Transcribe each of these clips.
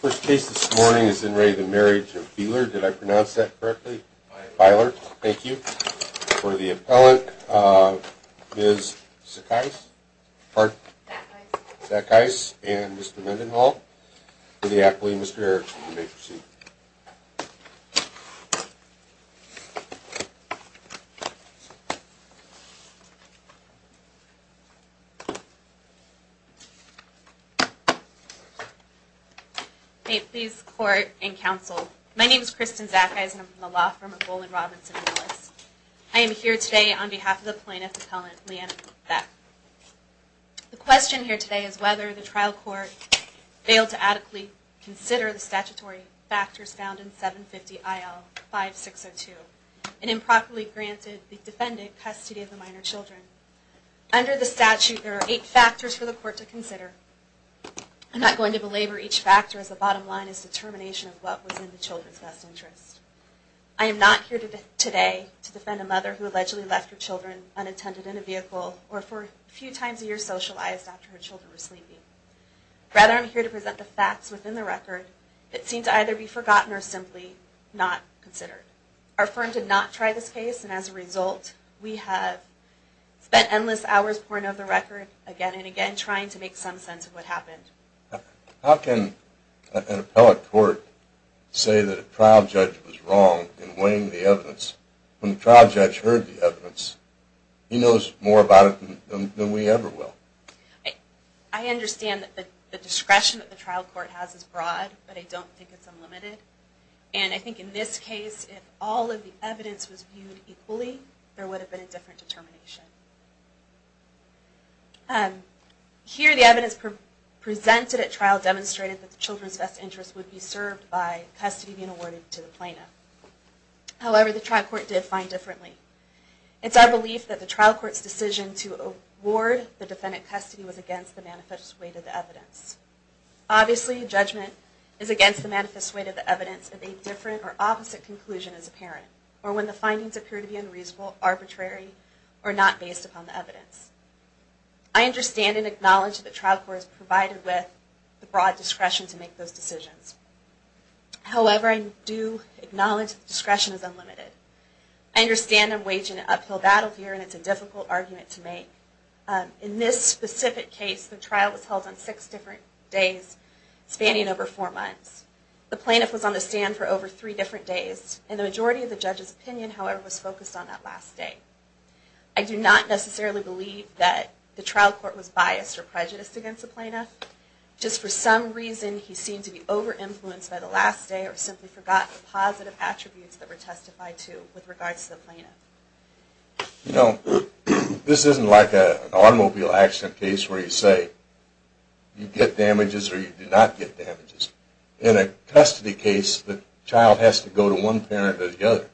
First case this morning is in re the marriage of Beiler. Did I pronounce that correctly? Beiler. Thank you. For the appellant, Ms. Sackice and Mr. Mendenhall. For the appellee, Mr. Erickson, you may proceed. May it please the court and counsel, my name is Kristen Sackice and I'm from the law firm of Bowlin, Robinson & Willis. I am here today on behalf of the plaintiff's appellant, Leanna Beck. The question here today is whether the trial court failed to adequately consider the statutory factors found in 750 IL 5602 and improperly granted the defendant custody of the minor children. Under the statute there are eight factors for the court to consider. I'm not going to belabor each factor as the bottom line is determination of what was in the children's best interest. I am not here today to defend a mother who allegedly left her children unattended in a vehicle or for a few times a year socialized after her children were sleeping. Rather I'm here to present the facts within the record that seem to either be forgotten or simply not considered. Our firm did not try this case and as a result we have spent endless hours pouring over the record again and again trying to make some sense of what happened. How can an appellate court say that a trial judge was wrong in weighing the evidence when the trial judge heard the evidence? He knows more about it than we ever will. I understand that the discretion that the trial court has is broad but I don't think it's unlimited. And I think in this case if all of the evidence was viewed equally there would have been a different determination. Here the evidence presented at trial demonstrated that the children's best interest would be served by custody being awarded to the plaintiff. However the trial court did find differently. It's our belief that the trial court's decision to award the defendant custody was against the manifest weight of the evidence. Obviously a judgment is against the manifest weight of the evidence if a different or opposite conclusion is apparent or when the findings appear to be unreasonable, arbitrary or not based upon the evidence. I understand and acknowledge that the trial court is provided with the broad discretion to make those decisions. However I do acknowledge that the discretion is unlimited. I understand I'm waging an uphill battle here and it's a difficult argument to make. In this specific case the trial was held on six different days spanning over four months. The plaintiff was on the stand for over three different days and the majority of the judge's opinion however was focused on that last day. I do not necessarily believe that the trial court was biased or prejudiced against the plaintiff. Just for some reason he seemed to be over influenced by the last day or simply forgot the positive attributes that were testified to with regards to the plaintiff. You know this isn't like an automobile accident case where you say you get damages or you do not get damages. In a custody case the child has to go to one parent or the other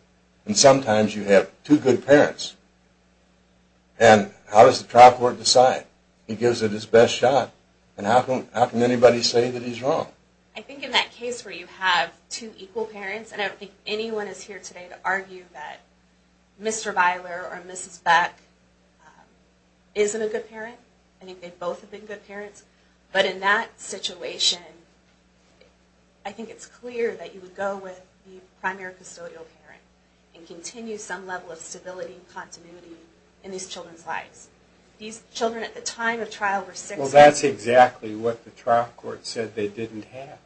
and sometimes you have two good parents. And how does the trial court decide? He gives it his best shot and how can anybody say that he's wrong? I think in that case where you have two equal parents and I don't think anyone is here today to argue that Mr. Byler or Mrs. Beck isn't a good parent. I think they both have been good parents. But in that situation I think it's clear that you would go with the primary custodial parent and continue some level of stability and continuity in these children's lives. These children at the time of trial were six months old. Well that's exactly what the trial court said they didn't have.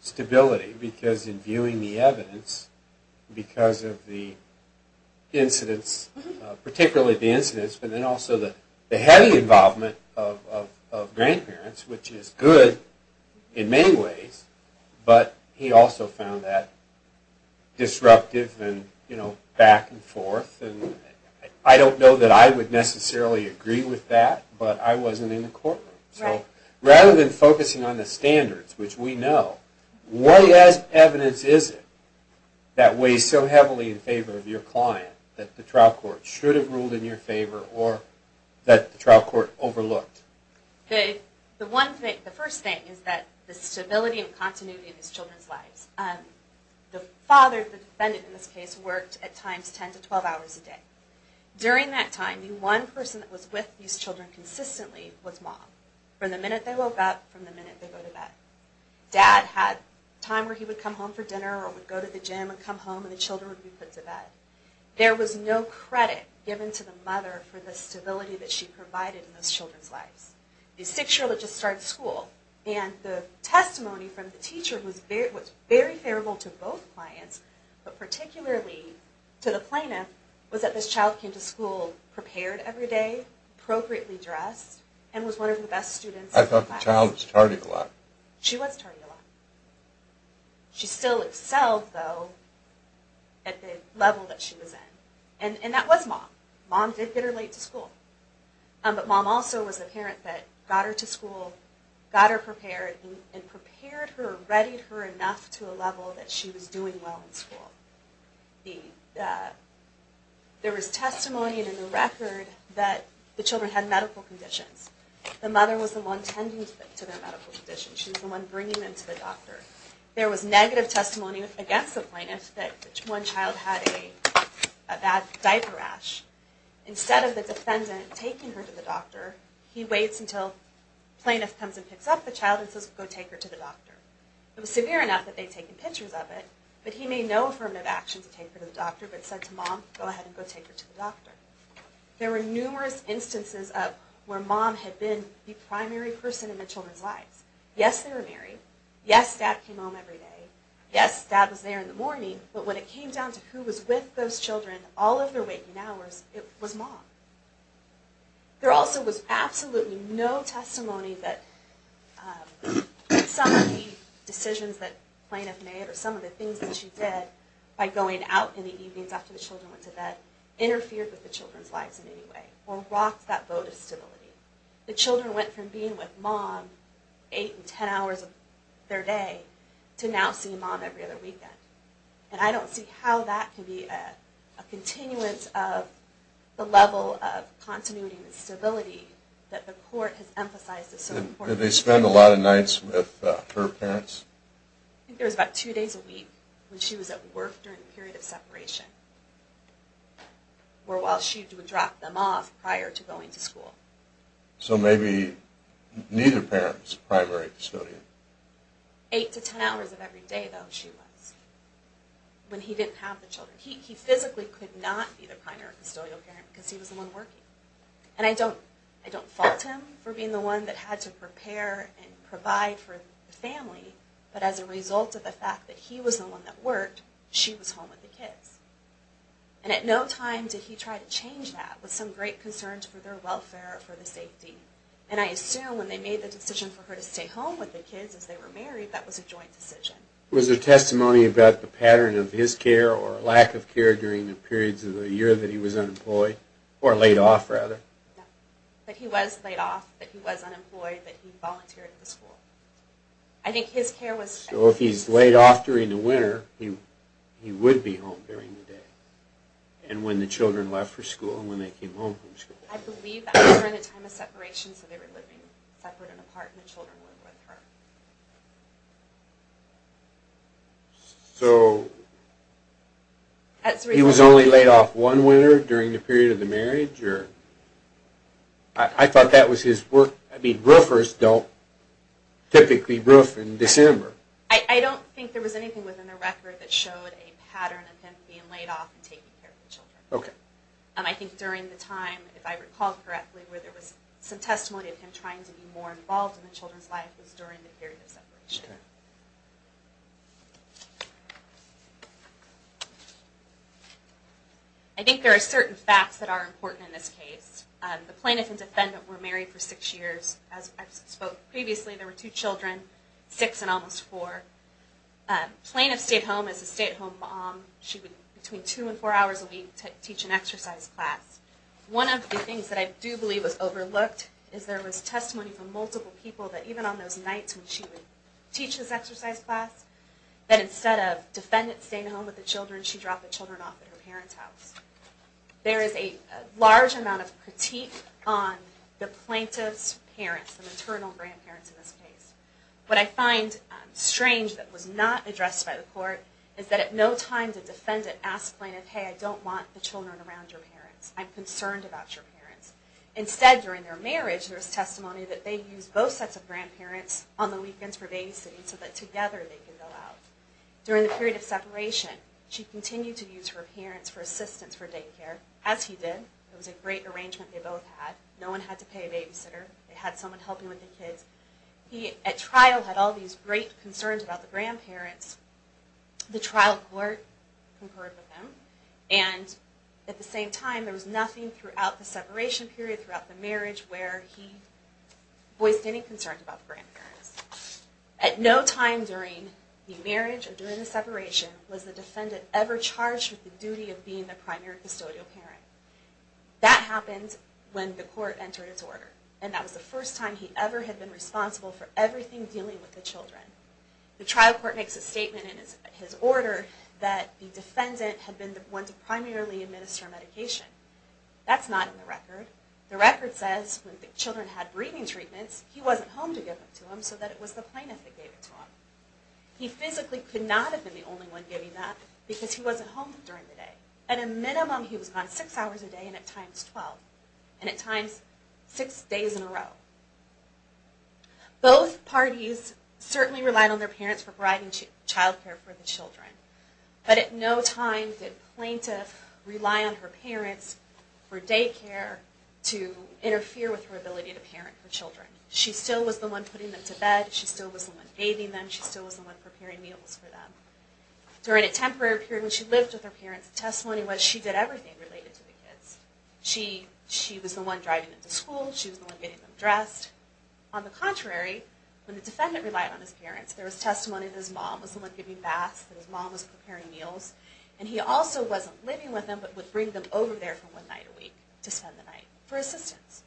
Stability. Because in viewing the evidence because of the incidents, particularly the incidents but then also the heavy involvement of grandparents which is good in many ways but he also found that disruptive and back and forth. I don't know that I would necessarily agree with that but I wasn't in the courtroom. So rather than focusing on the standards, which we know, what evidence is it that weighs so heavily in favor of your client that the trial court should have ruled in your favor or that the trial court overlooked? The first thing is that the stability and continuity in these children's lives. The father, the defendant in this case, worked at times 10 to 12 hours a day. During that time the one person that was with these children consistently was mom. From the minute they woke up, from the minute they go to bed. Dad had time where he would come home for dinner or would go to the gym and come home and the children would be put to bed. There was no credit given to the mother for the stability that she provided in those children's lives. The six-year-old had just started school and the testimony from the teacher was very favorable to both clients but particularly to the plaintiff was that this child came to school prepared every day, appropriately dressed, and was one of the best students in the class. She was tardy a lot. She still excelled, though, at the level that she was in. And that was mom. Mom did get her late to school. But mom also was a parent that got her to school, got her prepared, and prepared her, readied her enough to a level that she was doing well in school. There was testimony in the record that the children had medical conditions. The mother was the one tending to their medical conditions. She was the one bringing them to the doctor. There was negative testimony against the plaintiff that one child had a bad diaper rash. Instead of the defendant taking her to the doctor, he waits until the plaintiff comes and picks up the child and says, go take her to the doctor. It was severe enough that they had taken pictures of it, but he made no affirmative action to take her to the doctor but said to mom, go ahead and go take her to the doctor. There were numerous instances of where mom had been the primary person in the children's lives. Yes, they were married. Yes, dad came home every day. Yes, dad was there in the morning. But when it came down to who was with those children all of their waking hours, it was mom. There also was absolutely no testimony that some of the decisions that the plaintiff made or some of the things that she did by going out in the evenings after the children went to bed interfered with the children's lives in any way or rocked that vote of stability. The children went from being with mom eight and ten hours of their day to now seeing mom every other weekend. And I don't see how that can be a continuance of the level of continuity and stability that the court has emphasized. Did they spend a lot of nights with her parents? I think there was about two days a week when she was at work during the period of separation where while she would drop them off prior to going to school. So maybe neither parent was a primary custodian. Eight to ten hours of every day though she was when he didn't have the children. He physically could not be the primary custodial parent because he was the one working. And I don't fault him for being the one that had to prepare and provide for the family, but as a result of the fact that he was the one that worked, she was home with the kids. And at no time did he try to change that with some great concerns for their welfare or for the safety. And I assume when they made the decision for her to stay home with the kids as they were married, that was a joint decision. Was there testimony about the pattern of his care or lack of care during the periods of the year that he was unemployed? Or laid off rather. That he was laid off, that he was unemployed, that he volunteered for school. I think his care was... So if he's laid off during the winter, he would be home during the day. And when the children left for school and when they came home from school. I believe that was during the time of separation, so they were living separate and apart and the children lived with her. He was only laid off one winter during the period of the marriage? I thought that was his work. I mean, roofers don't typically roof in December. I don't think there was anything within the record that showed a pattern of him being laid off and taking care of the children. I think during the time, if I recall correctly, where there was some testimony of him trying to be more involved in the children's lives was during the period of separation. I think there are certain facts that are important in this case. The plaintiff and defendant were married for six years. As I spoke previously, there were two children, six and almost four. The plaintiff stayed home as a stay-at-home mom. She would, between two and four hours a week, teach an exercise class. One of the things that I do believe was overlooked is there was testimony from multiple people that even on those nights when she would teach this exercise class, that instead of defendants staying home with the children, she dropped the children off at her parents' house. There is a large amount of critique on the plaintiff's parents, the maternal grandparents in this case. What I find strange that was not addressed by the court is that at no time did the defendant ask the plaintiff, hey, I don't want the children around your parents. I'm concerned about your parents. Instead, during their marriage, there was testimony that they used both sets of grandparents on the weekends for babysitting so that together they could go out. During the period of separation, she continued to use her parents for assistance for daycare, as he did. It was a great arrangement they both had. No one had to pay a babysitter. They had someone helping with the kids. He, at trial, had all these great concerns about the grandparents. The trial court concurred with him. And at the same time, there was nothing throughout the separation period, throughout the marriage, where he voiced any concerns about the grandparents. At no time during the marriage or during the separation was the defendant ever charged with the duty of being the primary custodial parent. That happened when the court entered its order. And that was the first time he ever had been responsible for everything dealing with the children. The trial court makes a statement in his order that the defendant had been the one to primarily administer medication. That's not in the record. The record says when the children had breathing treatments, he wasn't home to give them to him so that it was the plaintiff that gave it to him. He physically could not have been the only one giving that because he wasn't home during the day. At a minimum, he was gone six hours a day and at times 12. And at times six days in a row. Both parties certainly relied on their parents for providing childcare for the children. But at no time did plaintiff rely on her parents for daycare to interfere with her ability to parent for children. She still was the one putting them to bed. She still was the one bathing them. She still was the one preparing meals for them. During a temporary period when she lived with her parents, the testimony was she did everything related to the kids. She was the one driving them to school. She was the one getting them dressed. On the contrary, when the defendant relied on his parents, there was testimony that his mom was the one giving baths, that his mom was preparing meals. And he also wasn't living with them but would bring them over there for one night a week to spend the night for assistance.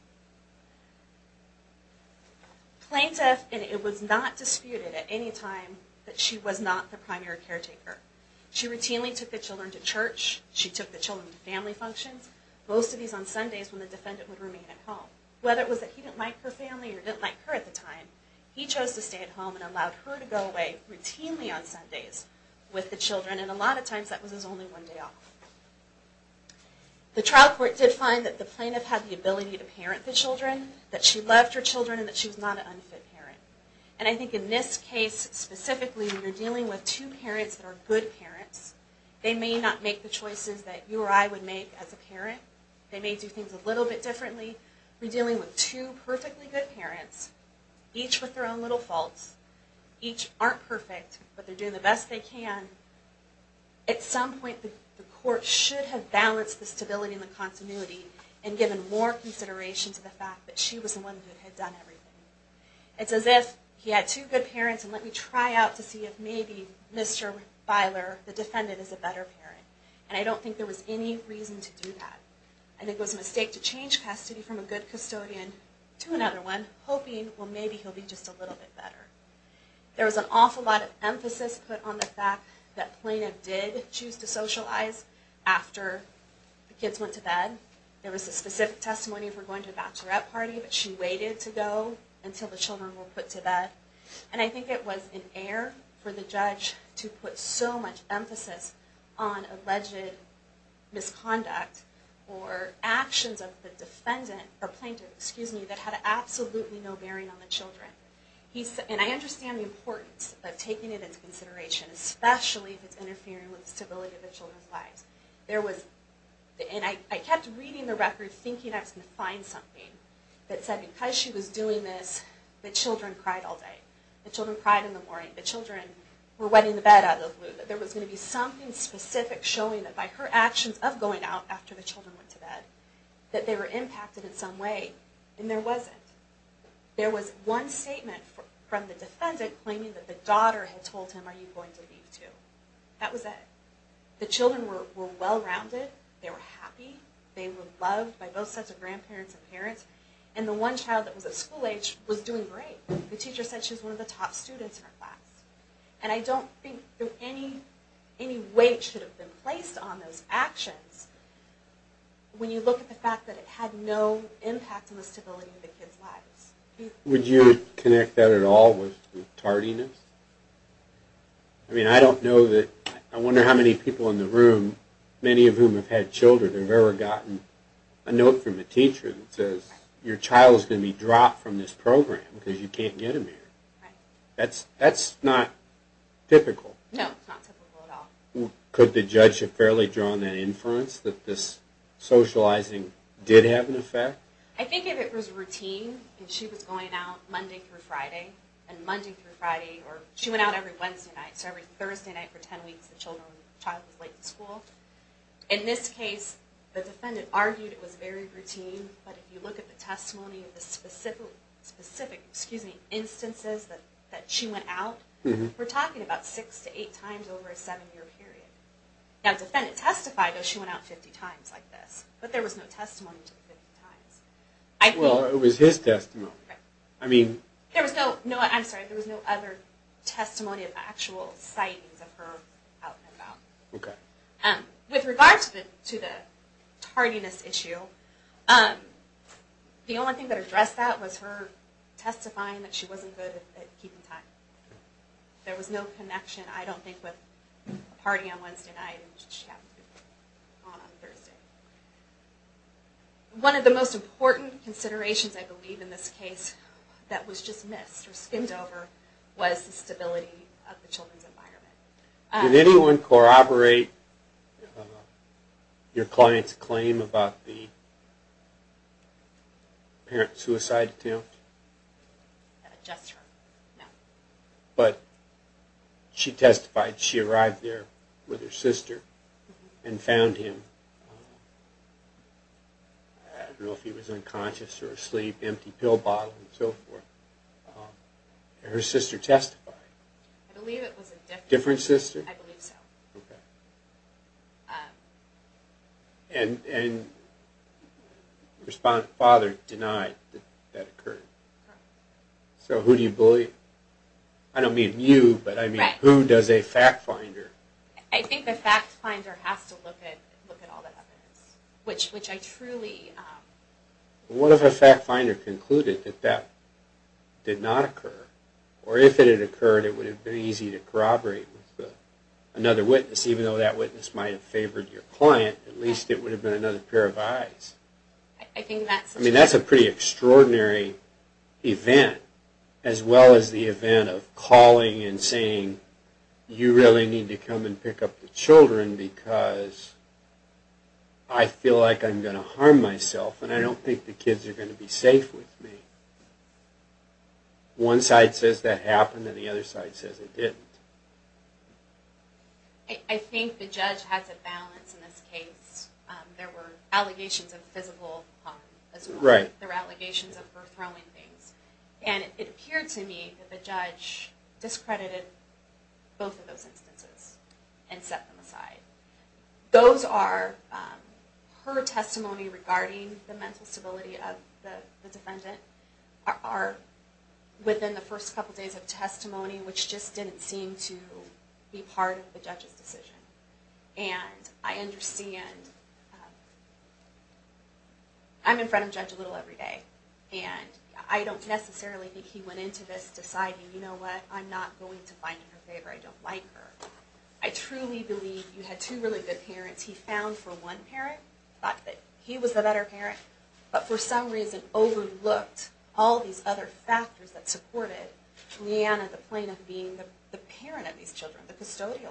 Plaintiff, and it was not disputed at any time, that she was not the primary caretaker. She routinely took the children to church. She took the children to family functions. Most of these on Sundays when the defendant would remain at home. Whether it was that he didn't like her family or didn't like her at the time, he chose to stay at home and allowed her to go away routinely on Sundays with the children. And a lot of times that was his only one day off. The trial court did find that the plaintiff had the ability to parent the children, that she loved her children, and that she was not an unfit parent. And I think in this case specifically, you're dealing with two parents that are good parents. They may not make the choices that you or I would make as a parent. They may do things a little bit differently. We're dealing with two perfectly good parents, each with their own little faults. Each aren't perfect, but they're doing the best they can. At some point, the court should have balanced the stability and the continuity and given more consideration to the fact that she was the one who had done everything. It's as if he had two good parents and let me try out to see if maybe Mr. Feiler, the defendant, is a better parent. And I don't think there was any reason to do that. I think it was a mistake to change custody from a good custodian to another one, hoping, well, maybe he'll be just a little bit better. There was an awful lot of emphasis put on the fact that plaintiff did choose to socialize after the kids went to bed. There was a specific testimony for going to a bachelorette party, but she waited to go until the children were put to bed. And I think it was in error for the judge to put so much emphasis on alleged misconduct or actions of the defendant, or plaintiff, excuse me, that had absolutely no bearing on the children. And I understand the importance of taking it into consideration, especially if it's interfering with the stability of the children's lives. There was, and I kept reading the record thinking I was going to find something that said because she was doing this, the children cried all day. The children cried in the morning. The children were wetting the bed out of the blue. That there was going to be something specific showing that by her actions of going out after the children went to bed, that they were impacted in some way. And there wasn't. There was one statement from the defendant claiming that the daughter had told him, are you going to leave too? That was it. The children were well-rounded. They were happy. They were loved by both sets of grandparents and parents. And the one child that was at school age was doing great. The teacher said she was one of the top students in her class. And I don't think that any weight should have been placed on those actions when you look at the fact that it had no impact on the stability of the kids' lives. Would you connect that at all with tardiness? I mean, I don't know that, I wonder how many people in the room, many of whom have had children, have ever gotten a note from a teacher that says your child is going to be dropped from this program because you can't get him here. That's not typical. No, it's not typical at all. Could the judge have fairly drawn that inference that this socializing did have an effect? I think if it was routine and she was going out Monday through Friday, and Monday through Friday, or she went out every Wednesday night, so every Thursday night for 10 weeks the child was late to school. In this case, the defendant argued it was very routine, but if you look at the testimony of the specific instances that she went out, we're talking about six to eight times over a seven-year period. Now, the defendant testified that she went out 50 times like this, but there was no testimony to the 50 times. Well, it was his testimony. I'm sorry, there was no other testimony of actual sightings of her out and about. With regard to the tardiness issue, the only thing that addressed that was her testifying that she wasn't good at keeping time. There was no connection, I don't think, with a party on Wednesday night and what she had on Thursday. One of the most important considerations, I believe, in this case that was just missed or skimmed over was the stability of the children's environment. Did anyone corroborate your client's claim about the apparent suicide attempt? Just her, no. But she testified. She arrived there with her sister and found him. I don't know if he was unconscious or asleep, empty pill bottle and so forth. Her sister testified. I believe it was a different sister. Different sister? I believe so. And the father denied that that occurred. So who do you believe? I don't mean you, but I mean who does a fact finder? I think the fact finder has to look at all the evidence, which I truly... What if a fact finder concluded that that did not occur? Or if it had occurred, it would have been easy to corroborate with another witness, even though that witness might have favored your client, at least it would have been another pair of eyes. I mean, that's a pretty extraordinary event, as well as the event of calling and saying, you really need to come and pick up the children because I feel like I'm going to harm myself and I don't think the kids are going to be safe with me. One side says that happened and the other side says it didn't. I think the judge has a balance in this case. There were allegations of physical harm as well. There were allegations of her throwing things. And it appeared to me that the judge discredited both of those instances and set them aside. Those are her testimony regarding the mental stability of the defendant are within the first couple days of testimony, which just didn't seem to be part of the judge's decision. And I understand... I'm in front of Judge Little every day, and I don't necessarily think he went into this deciding, you know what, I'm not going to find in her favor, I don't like her. I truly believe you had two really good parents. He found for one parent the fact that he was the better parent, but for some reason overlooked all these other factors that supported Leanna the plaintiff being the parent of these children, the custodial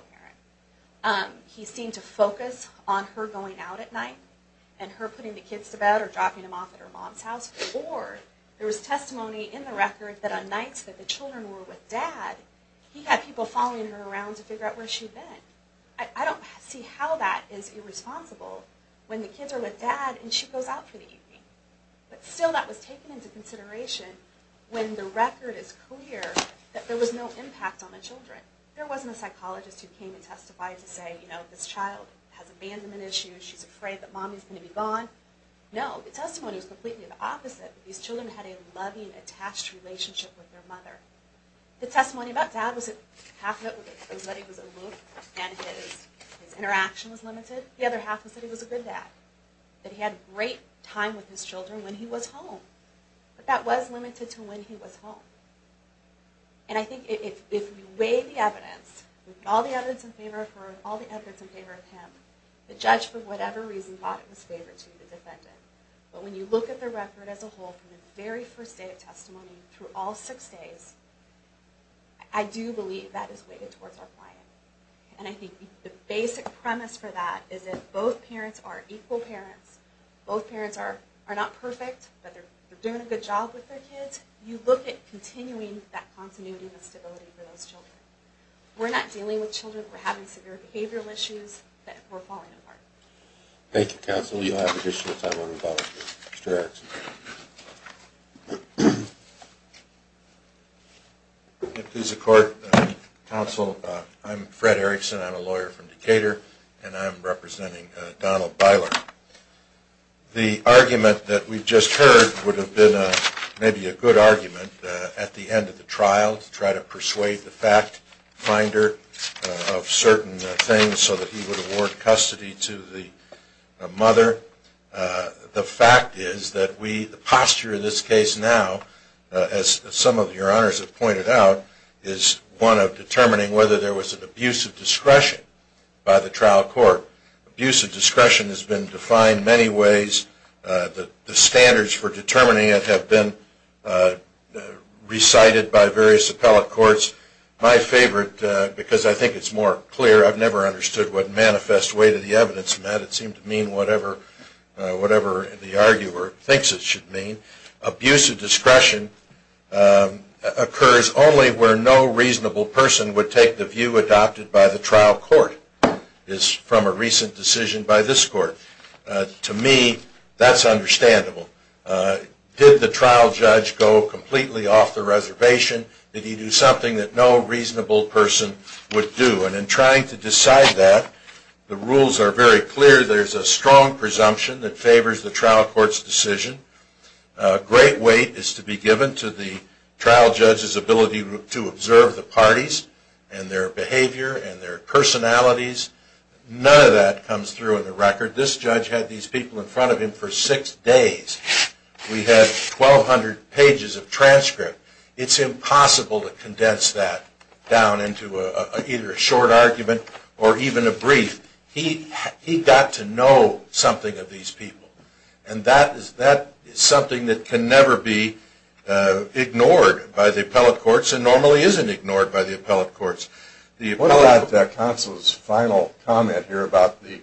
parent. He seemed to focus on her going out at night and her putting the kids to bed or dropping them off at her mom's house. Or there was testimony in the record that on nights that the children were with dad, he had people following her around to figure out where she'd been. I don't see how that is irresponsible when the kids are with dad and she goes out for the evening. But still that was taken into consideration when the record is clear that there was no impact on the children. There wasn't a psychologist who came and testified to say, you know, this child has abandonment issues, she's afraid that mommy's going to be gone. No, the testimony was completely the opposite. These children had a loving, attached relationship with their mother. The testimony about dad was that half of it was that he was alone and his interaction was limited. The other half was that he was a good dad, that he had a great time with his children when he was home. But that was limited to when he was home. And I think if we weigh the evidence, all the evidence in favor of her and all the evidence in favor of him, the judge for whatever reason thought it was in favor to the defendant. But when you look at the record as a whole from the very first day of testimony through all six days, I do believe that is weighted towards our client. And I think the basic premise for that is that both parents are equal parents, both parents are not perfect, but they're doing a good job with their kids. You look at continuing that continuity and stability for those children. We're not dealing with children who are having severe behavioral issues that we're falling apart. Thank you, counsel. You'll have additional time on the ballot. Mr. Erickson. If it pleases the court, counsel, I'm Fred Erickson. I'm a lawyer from Decatur, and I'm representing Donald Beiler. The argument that we've just heard would have been maybe a good argument at the end of the trial to try to persuade the fact finder of certain things so that he would award custody to the mother. The fact is that the posture in this case now, as some of your honors have pointed out, is one of determining whether there was an abuse of discretion by the trial court. Abuse of discretion has been defined many ways. The standards for determining it have been recited by various appellate courts. My favorite, because I think it's more clear, I've never understood what manifest way to the evidence in that. It seemed to mean whatever the arguer thinks it should mean. Abuse of discretion occurs only where no reasonable person would take the view adopted by the trial court. It's from a recent decision by this court. To me, that's understandable. Did the trial judge go completely off the reservation? Did he do something that no reasonable person would do? And in trying to decide that, the rules are very clear. There's a strong presumption that favors the trial court's decision. A great weight is to be given to the trial judge's ability to observe the parties and their behavior and their personalities. None of that comes through in the record. This judge had these people in front of him for six days. We had 1,200 pages of transcript. It's impossible to condense that down into either a short argument or even a brief. He got to know something of these people, and that is something that can never be ignored by the appellate courts and normally isn't ignored by the appellate courts. The appellate counsel's final comment here about the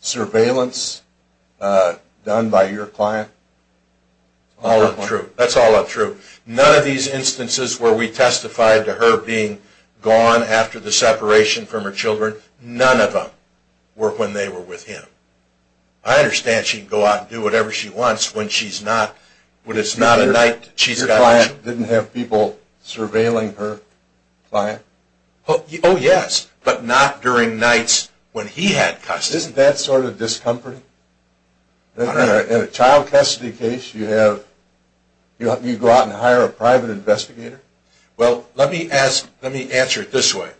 surveillance done by your client? That's all untrue. None of these instances where we testified to her being gone after the separation from her children, none of them were when they were with him. I understand she can go out and do whatever she wants when it's not a night she's got to be with him. Your client didn't have people surveilling her client? Oh, yes, but not during nights when he had custody. Isn't that sort of discomforting? In a child custody case, you go out and hire a private investigator? Well, let me answer it this way.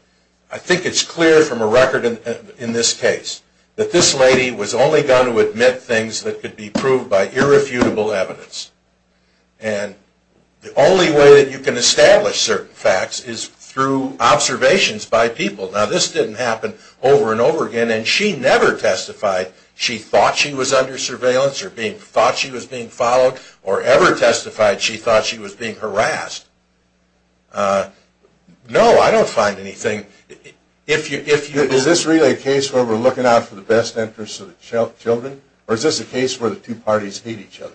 I think it's clear from a record in this case that this lady was only going to admit things that could be proved by irrefutable evidence, and the only way that you can establish certain facts is through observations by people. Now, this didn't happen over and over again, and she never testified she thought she was under surveillance or thought she was being followed or ever testified she thought she was being harassed. No, I don't find anything. Is this really a case where we're looking out for the best interest of the children, or is this a case where the two parties hate each other?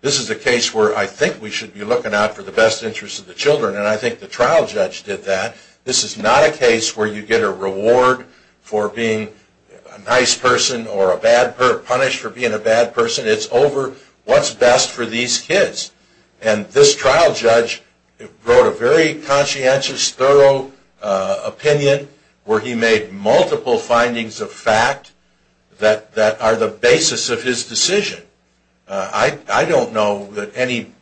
This is a case where I think we should be looking out for the best interest of the children, and I think the trial judge did that. This is not a case where you get a reward for being a nice person or punished for being a bad person. It's over what's best for these kids, and this trial judge wrote a very conscientious, thorough opinion where he made multiple findings of fact that are the basis of his decision. I don't know that any...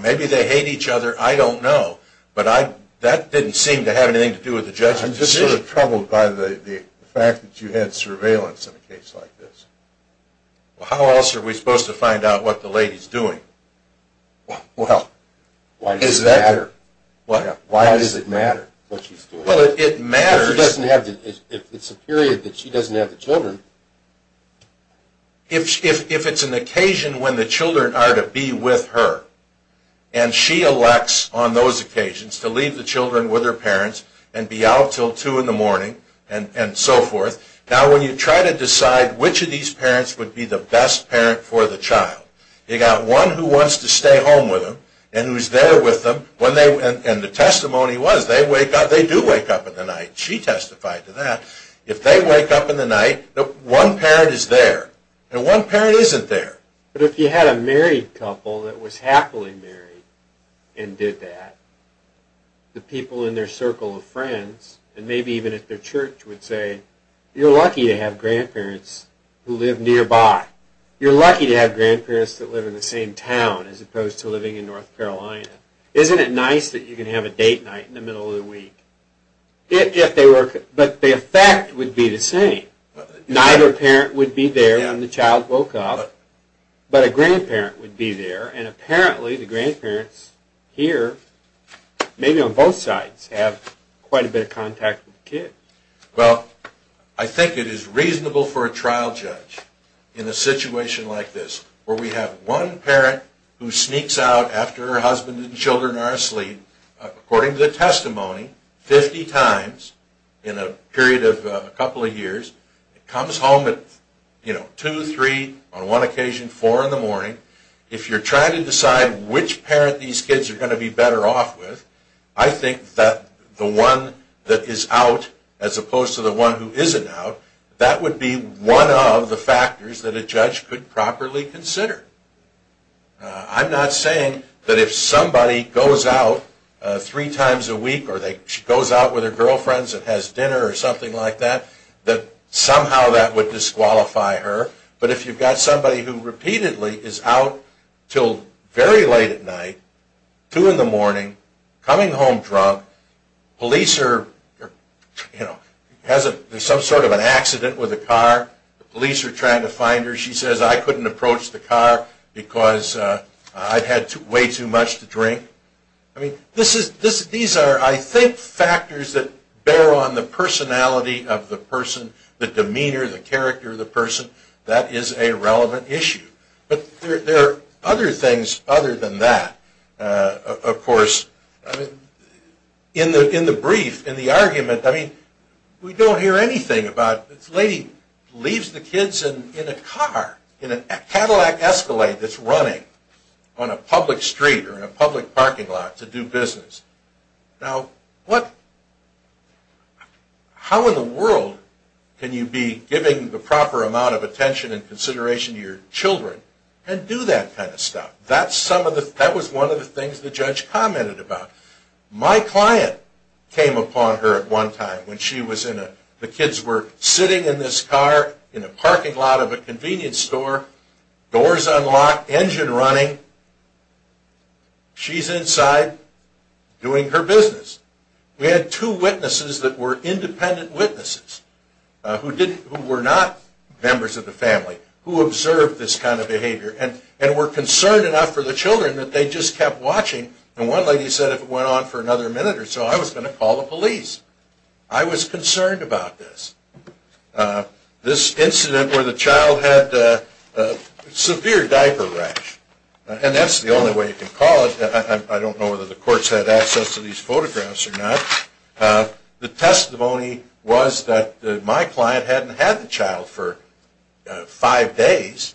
maybe they hate each other, I don't know, but that didn't seem to have anything to do with the judge's decision. I'm just sort of troubled by the fact that you had surveillance in a case like this. How else are we supposed to find out what the lady's doing? Why does it matter? What? Why does it matter what she's doing? Well, it matters... If it's a period that she doesn't have the children... If it's an occasion when the children are to be with her and she elects on those occasions to leave the children with her parents and be out until 2 in the morning and so forth, now when you try to decide which of these parents would be the best parent for the child, you've got one who wants to stay home with them and who's there with them, and the testimony was they do wake up in the night. She testified to that. If they wake up in the night, one parent is there, and one parent isn't there. But if you had a married couple that was happily married and did that, the people in their circle of friends and maybe even at their church would say, you're lucky to have grandparents who live nearby. You're lucky to have grandparents that live in the same town as opposed to living in North Carolina. Isn't it nice that you can have a date night in the middle of the week? But the effect would be the same. Neither parent would be there when the child woke up, but a grandparent would be there, and apparently the grandparents here, maybe on both sides, have quite a bit of contact with the kid. Well, I think it is reasonable for a trial judge in a situation like this where we have one parent who sneaks out after her husband and children are asleep, according to the testimony, 50 times in a period of a couple of years, comes home at 2, 3, on one occasion, 4 in the morning. If you're trying to decide which parent these kids are going to be better off with, I think that the one that is out as opposed to the one who isn't out, that would be one of the factors that a judge could properly consider. I'm not saying that if somebody goes out three times a week or she goes out with her girlfriends and has dinner or something like that, that somehow that would disqualify her. But if you've got somebody who repeatedly is out until very late at night, 2 in the morning, coming home drunk, police are, you know, there's some sort of an accident with a car, police are trying to find her, she says, I couldn't approach the car because I'd had way too much to drink. I mean, these are, I think, factors that bear on the personality of the person, the demeanor, the character of the person, that is a relevant issue. But there are other things other than that, of course. I mean, in the brief, in the argument, I mean, we don't hear anything about, this lady leaves the kids in a car, in a Cadillac Escalade that's running on a public street or in a public parking lot to do business. Now, how in the world can you be giving the proper amount of attention and consideration to your children and do that kind of stuff? That was one of the things the judge commented about. My client came upon her at one time when she was in a, the kids were sitting in this car in a parking lot of a convenience store, doors unlocked, engine running, she's inside doing her business. We had two witnesses that were independent witnesses who were not members of the family who observed this kind of behavior and were concerned enough for the children that they just kept watching, and one lady said if it went on for another minute or so, I was going to call the police. I was concerned about this. This incident where the child had a severe diaper rash, and that's the only way you can call it. I don't know whether the courts had access to these photographs or not. The testimony was that my client hadn't had the child for five days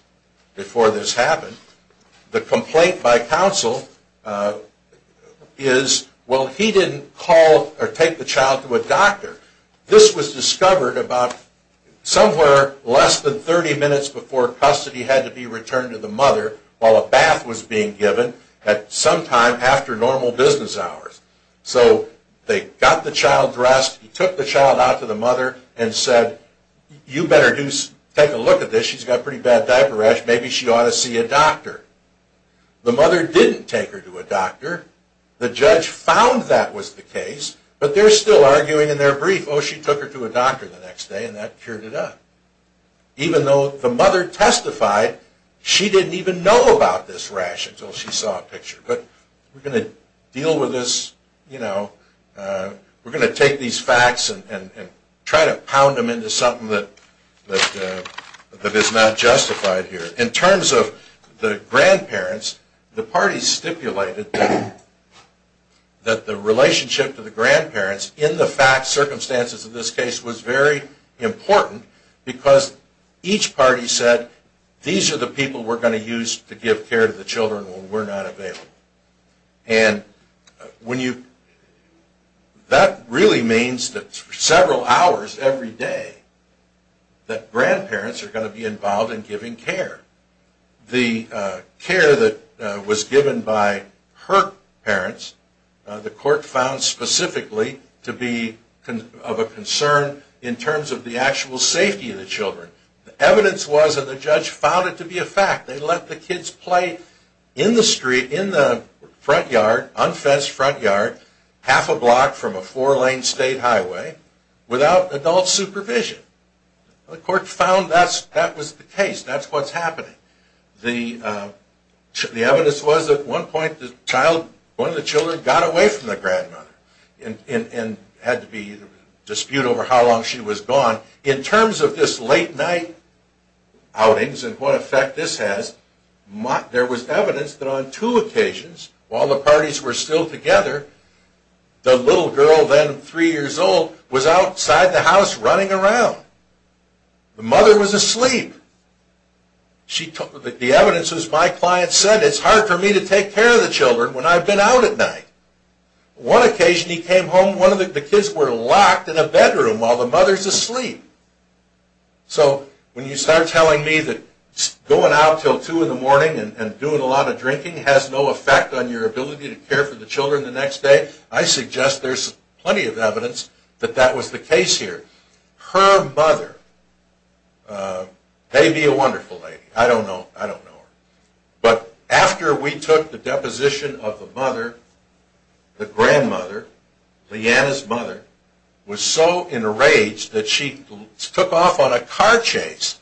before this happened. The complaint by counsel is, well, he didn't call or take the child to a doctor. This was discovered about somewhere less than 30 minutes before custody had to be returned to the mother while a bath was being given at some time after normal business hours. So they got the child dressed. He took the child out to the mother and said you better take a look at this. She's got a pretty bad diaper rash. Maybe she ought to see a doctor. The mother didn't take her to a doctor. The judge found that was the case, but they're still arguing in their brief. Oh, she took her to a doctor the next day, and that cured it up. Even though the mother testified, she didn't even know about this rash until she saw a picture. But we're going to deal with this. We're going to take these facts and try to pound them into something that is not justified here. In terms of the grandparents, the parties stipulated that the relationship to the grandparents in the fact circumstances of this case was very important because each party said these are the people we're going to use to give care to the children when we're not available. And that really means that several hours every day that grandparents are going to be involved in giving care. The care that was given by her parents, the court found specifically to be of a concern in terms of the actual safety of the children. The evidence was that the judge found it to be a fact. They let the kids play in the street, in the front yard, unfenced front yard, half a block from a four-lane state highway without adult supervision. The court found that was the case. That's what's happening. The evidence was that at one point one of the children got away from the grandmother and had to dispute over how long she was gone. In terms of this late night outings and what effect this has, there was evidence that on two occasions while the parties were still together, the little girl then three years old was outside the house running around. The mother was asleep. The evidence was my client said it's hard for me to take care of the children when I've been out at night. One occasion he came home and the kids were locked in a bedroom while the mother's asleep. So when you start telling me that going out until two in the morning and doing a lot of drinking has no effect on your ability to care for the children the next day, I suggest there's plenty of evidence that that was the case here. Her mother may be a wonderful lady. I don't know her. But after we took the deposition of the mother, the grandmother, Leanna's mother, was so enraged that she took off on a car chase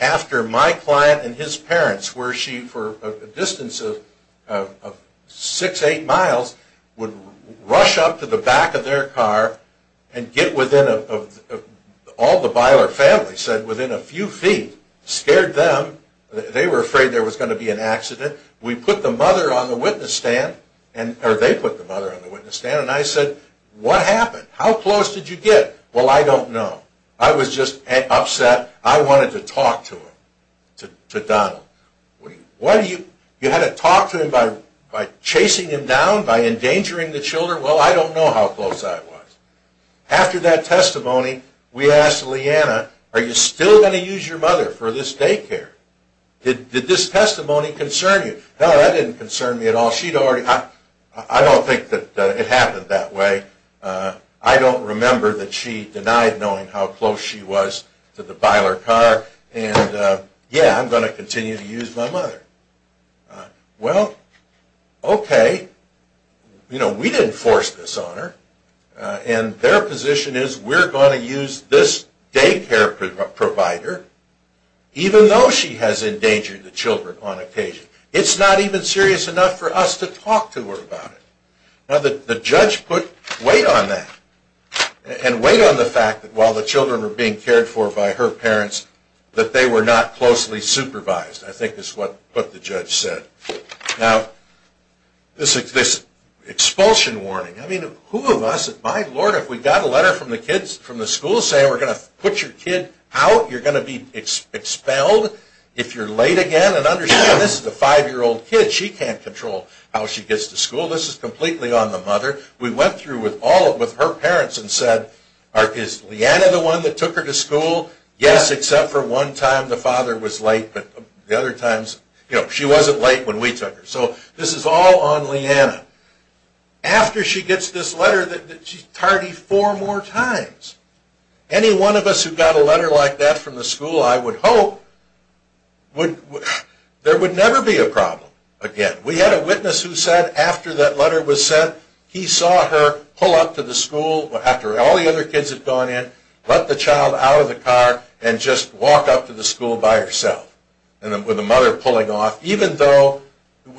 after my client and his parents where she for a distance of six, eight miles would rush up to the back of their car and get within all the Beiler family said within a few feet, scared them. They were afraid there was going to be an accident. We put the mother on the witness stand or they put the mother on the witness stand and I said, what happened? How close did you get? Well, I don't know. I was just upset. I wanted to talk to him, to Donald. You had to talk to him by chasing him down, by endangering the children? Well, I don't know how close I was. After that testimony we asked Leanna, are you still going to use your mother for this daycare? Did this testimony concern you? No, that didn't concern me at all. I don't think that it happened that way. I don't remember that she denied knowing how close she was to the Beiler car. Yeah, I'm going to continue to use my mother. Well, okay. We didn't force this on her. And their position is we're going to use this daycare provider even though she has endangered the children on occasion. It's not even serious enough for us to talk to her about it. Now, the judge put weight on that and weight on the fact that while the children were being cared for by her parents, that they were not closely supervised, I think is what the judge said. Now, this expulsion warning, I mean, who of us, my Lord, if we got a letter from the kids from the school saying we're going to put your kid out, you're going to be expelled if you're late again? And understand, this is a five-year-old kid. She can't control how she gets to school. This is completely on the mother. We went through with her parents and said, is Leanna the one that took her to school? Yes, except for one time the father was late, but the other times she wasn't late when we took her. So this is all on Leanna. After she gets this letter that she's tardy four more times. Any one of us who got a letter like that from the school, I would hope, there would never be a problem again. We had a witness who said after that letter was sent, he saw her pull up to the school after all the other kids had gone in, let the child out of the car and just walk up to the school by herself with the mother pulling off, even though it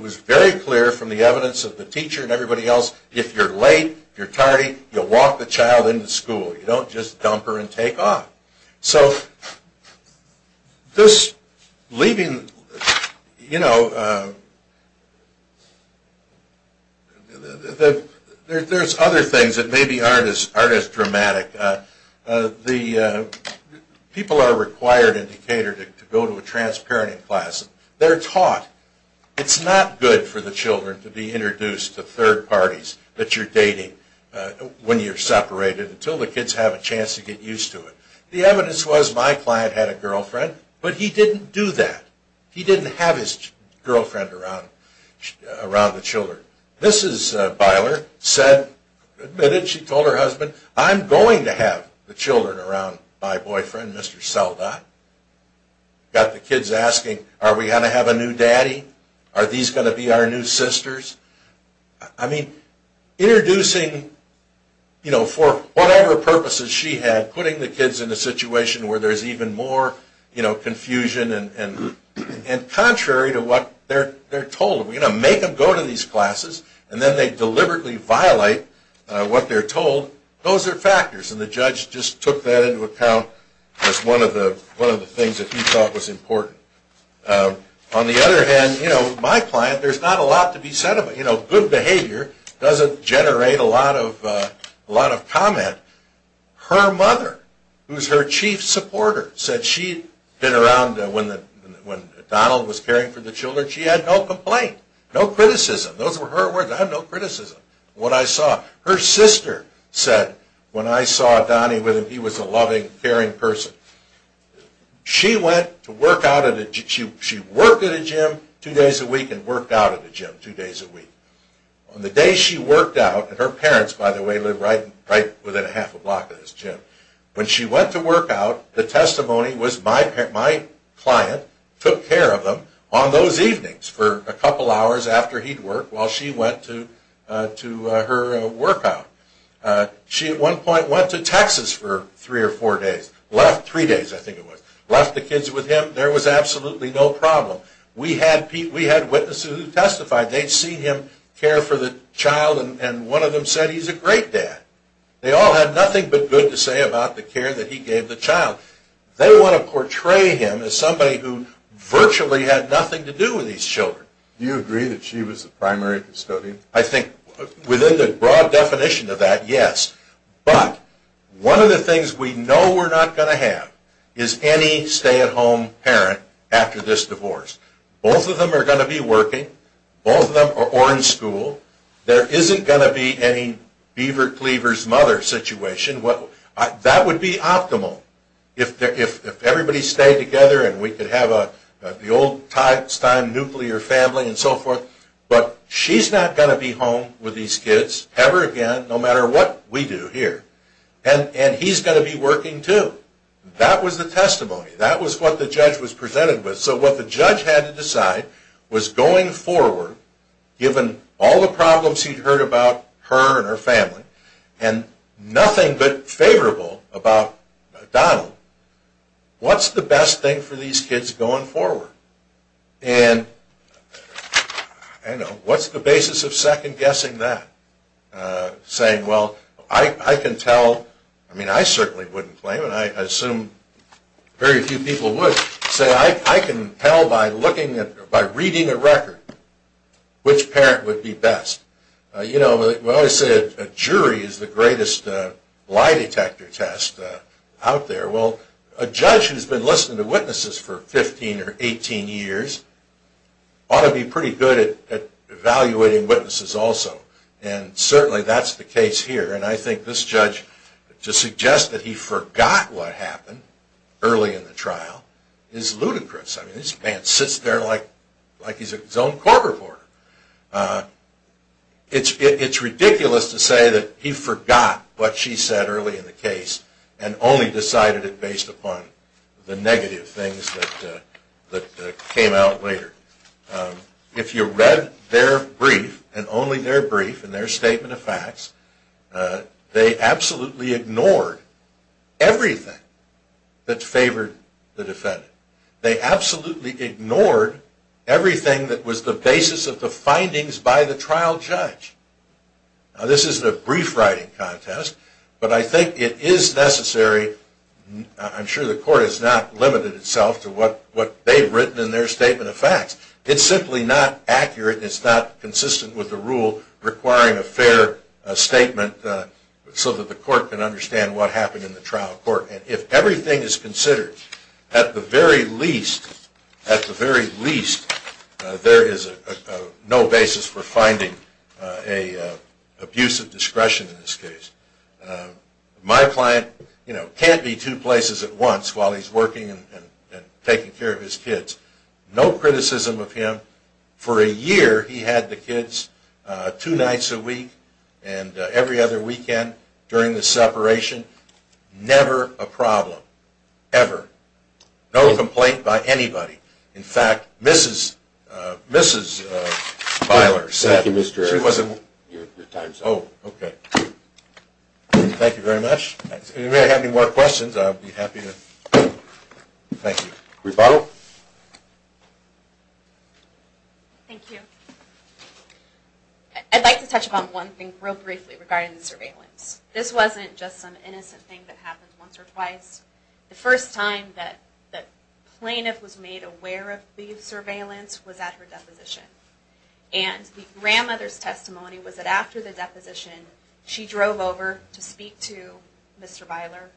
was very clear from the evidence of the teacher and everybody else, if you're late, if you're tardy, you walk the child into school. You don't just dump her and take off. There's other things that maybe aren't as dramatic. People are required in Decatur to go to a transparent class. They're taught it's not good for the children to be introduced to third parties that you're dating when you're separated until the kids have a chance to get used to it. The evidence was my client had a girlfriend, but he didn't do that. He didn't have his girlfriend around the children. Mrs. Beiler admitted she told her husband, I'm going to have the children around my boyfriend, Mr. Seldot. Got the kids asking, are we going to have a new daddy? Are these going to be our new sisters? I mean, introducing for whatever purposes she had, putting the kids in a situation where there's even more confusion and contrary to what they're told. Are we going to make them go to these classes? And then they deliberately violate what they're told. Those are factors, and the judge just took that into account as one of the things that he thought was important. On the other hand, my client, there's not a lot to be said about it. Good behavior doesn't generate a lot of comment. Her mother, who's her chief supporter, said she'd been around when Donald was caring for the children, she had no complaint, no criticism. Those were her words, I have no criticism. What I saw, her sister said when I saw Donnie with him, he was a loving, caring person. She went to work out at a gym, she worked at a gym two days a week and worked out at a gym two days a week. On the day she worked out, and her parents, by the way, live right within a half a block of this gym. When she went to work out, the testimony was, my client took care of them on those evenings for a couple hours after he'd worked while she went to her workout. She at one point went to Texas for three or four days, left three days I think it was, left the kids with him, there was absolutely no problem. We had witnesses who testified, they'd seen him care for the child and one of them said he's a great dad. They all had nothing but good to say about the care that he gave the child. They want to portray him as somebody who virtually had nothing to do with these children. Do you agree that she was the primary custodian? I think within the broad definition of that, yes. But one of the things we know we're not going to have is any stay-at-home parent after this divorce. Both of them are going to be working, both of them are in school, there isn't going to be any beaver-cleaver's mother situation. That would be optimal if everybody stayed together and we could have the old-time nuclear family and so forth. But she's not going to be home with these kids ever again, no matter what we do here. And he's going to be working too. That was the testimony. That was what the judge was presented with. So what the judge had to decide was going forward, given all the problems he'd heard about her and her family and nothing but favorable about Donald, what's the best thing for these kids going forward? And what's the basis of second-guessing that? Saying, well, I can tell, I mean, I certainly wouldn't claim, and I assume very few people would, say, I can tell by reading a record which parent would be best. You know, when I say a jury is the greatest lie-detector test out there, well, a judge who's been listening to witnesses for 15 or 18 years ought to be pretty good at evaluating witnesses also, and certainly that's the case here. And I think this judge, to suggest that he forgot what happened early in the trial is ludicrous. I mean, this man sits there like he's his own court reporter. It's ridiculous to say that he forgot what she said early in the case and only decided it based upon the negative things that came out later. If you read their brief, and only their brief and their statement of facts, they absolutely ignored everything that favored the defendant. They absolutely ignored everything that was the basis of the findings by the trial judge. Now, this isn't a brief writing contest, but I think it is necessary. I'm sure the court has not limited itself to what they've written in their statement of facts. It's simply not accurate. It's not consistent with the rule requiring a fair statement so that the court can understand what happened in the trial court. If everything is considered, at the very least, there is no basis for finding an abuse of discretion in this case. My client can't be two places at once while he's working and taking care of his kids. No criticism of him. For a year, he had the kids two nights a week and every other weekend during the separation. Never a problem. Ever. No complaint by anybody. In fact, Mrs. Byler said... Thank you, Mr. Erickson. Oh, okay. Thank you very much. If you have any more questions, I'll be happy to... Thank you. Rebuttal? Thank you. I'd like to touch upon one thing real briefly regarding the surveillance. This wasn't just some innocent thing that happened once or twice. The first time that the plaintiff was made aware of the surveillance was at her deposition. And the grandmother's testimony was that after the deposition, she drove over to speak to Mr. Byler,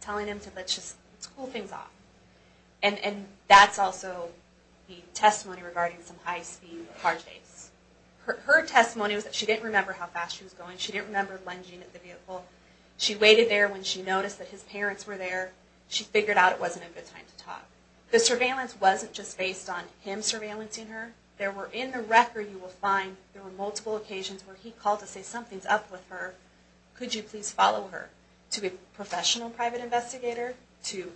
telling him to let's just cool things off. And that's also the testimony regarding some high-speed car chase. Her testimony was that she didn't remember how fast she was going. She didn't remember lunging at the vehicle. She waited there when she noticed that his parents were there. She figured out it wasn't a good time to talk. The surveillance wasn't just based on him surveillancing her. There were, in the record you will find, there were multiple occasions where he called to say something's up with her. Could you please follow her? To a professional private investigator, to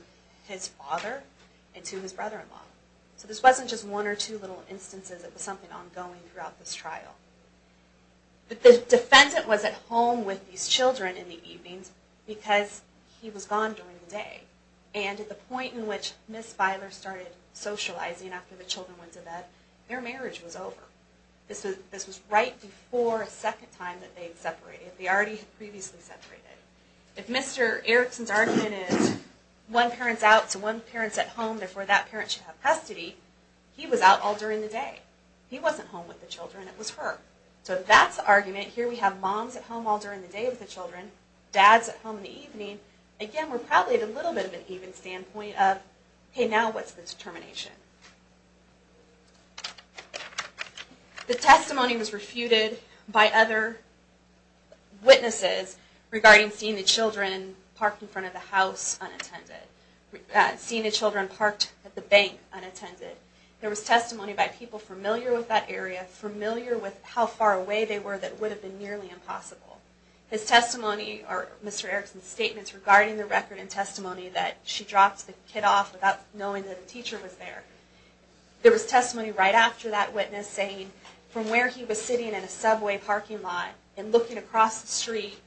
his father, and to his brother-in-law. So this wasn't just one or two little instances. It was something ongoing throughout this trial. But the defendant was at home with these children in the evenings because he was gone during the day. And at the point in which Ms. Byler started socializing after the children went to bed, their marriage was over. This was right before a second time that they had separated. They already had previously separated. If Mr. Erickson's argument is one parent's out, so one parent's at home, therefore that parent should have custody, he was out all during the day. He wasn't home with the children. It was her. So if that's the argument, here we have moms at home all during the day with the children, dads at home in the evening, again we're probably at a little bit of an even standpoint of, okay, now what's the determination? The testimony was refuted by other witnesses regarding seeing the children parked in front of the house unattended, seeing the children parked at the bank unattended. There was testimony by people familiar with that area, familiar with how far away they were that would have been nearly impossible. His testimony, or Mr. Erickson's statements regarding the record and testimony that she dropped the kid off without knowing that the teacher was there. There was testimony right after that witness saying from where he was sitting in a subway parking lot and looking across the street,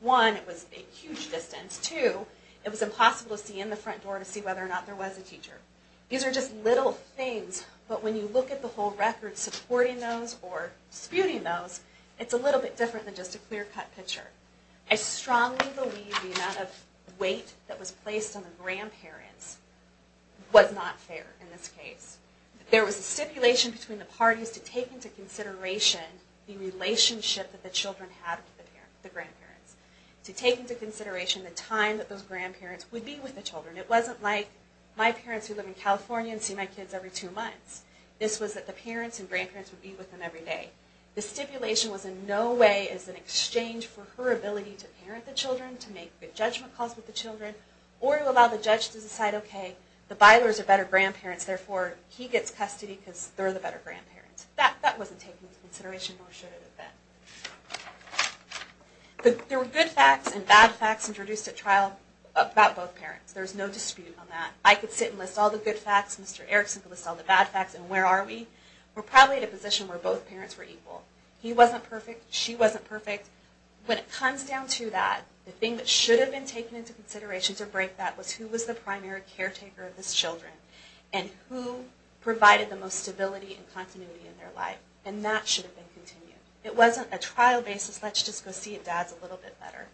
one, it was a huge distance. Two, it was impossible to see in the front door to see whether or not there was a teacher. These are just little things, but when you look at the whole record supporting those or disputing those, it's a little bit different than just a clear-cut picture. I strongly believe the amount of weight that was placed on the grandparents was not fair in this case. There was a stipulation between the parties to take into consideration the relationship that the children had with the grandparents, to take into consideration the time that those grandparents would be with the children. It wasn't like my parents who live in California and see my kids every two months. This was that the parents and grandparents would be with them every day. The stipulation was in no way as an exchange for her ability to parent the children, to make good judgment calls with the children, or to allow the judge to decide, okay, the Bylers are better grandparents, therefore he gets custody because they're the better grandparents. That wasn't taken into consideration, nor should it have been. There were good facts and bad facts introduced at trial about both parents. There's no dispute on that. I could sit and list all the good facts, Mr. Erickson could list all the bad facts, and where are we? We're probably at a position where both parents were equal. He wasn't perfect, she wasn't perfect. When it comes down to that, the thing that should have been taken into consideration to break that was who was the primary caretaker of the children, and who provided the most stability and continuity in their life. And that should have been continued. It wasn't a trial basis, let's just go see if dad's a little bit better.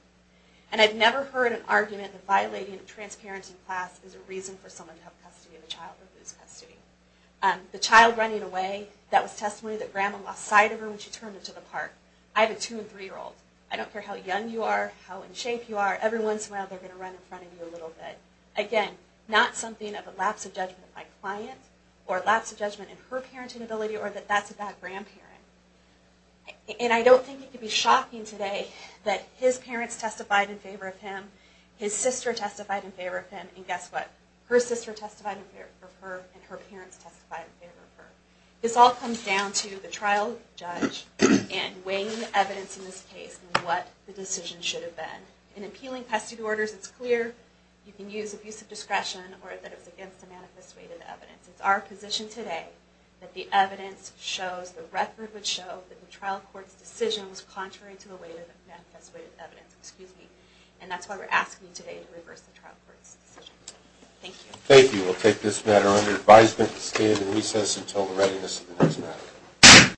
And I've never heard an argument that violating transparency in class is a reason for someone to have custody of a child or lose custody. The child running away, that was testimony that grandma lost sight of her when she turned into the park. I have a two and three year old. I don't care how young you are, how in shape you are, every once in a while they're going to run in front of you a little bit. Again, not something of a lapse of judgment by client, or a lapse of judgment in her parenting ability, or that that's a bad grandparent. And I don't think it could be shocking today that his parents testified in favor of him, his sister testified in favor of him, and guess what? Her sister testified in favor of her, and her parents testified in favor of her. This all comes down to the trial judge and weighing the evidence in this case and what the decision should have been. In appealing custody orders, it's clear you can use abusive discretion or that it was against the manifest weighted evidence. It's our position today that the evidence shows, the record would show, that the trial court's decision was contrary to the weight of the manifest weighted evidence. And that's why we're asking today to reverse the trial court's decision. Thank you. Thank you. We'll take this matter under advisement and stand in recess until the readiness of the next matter.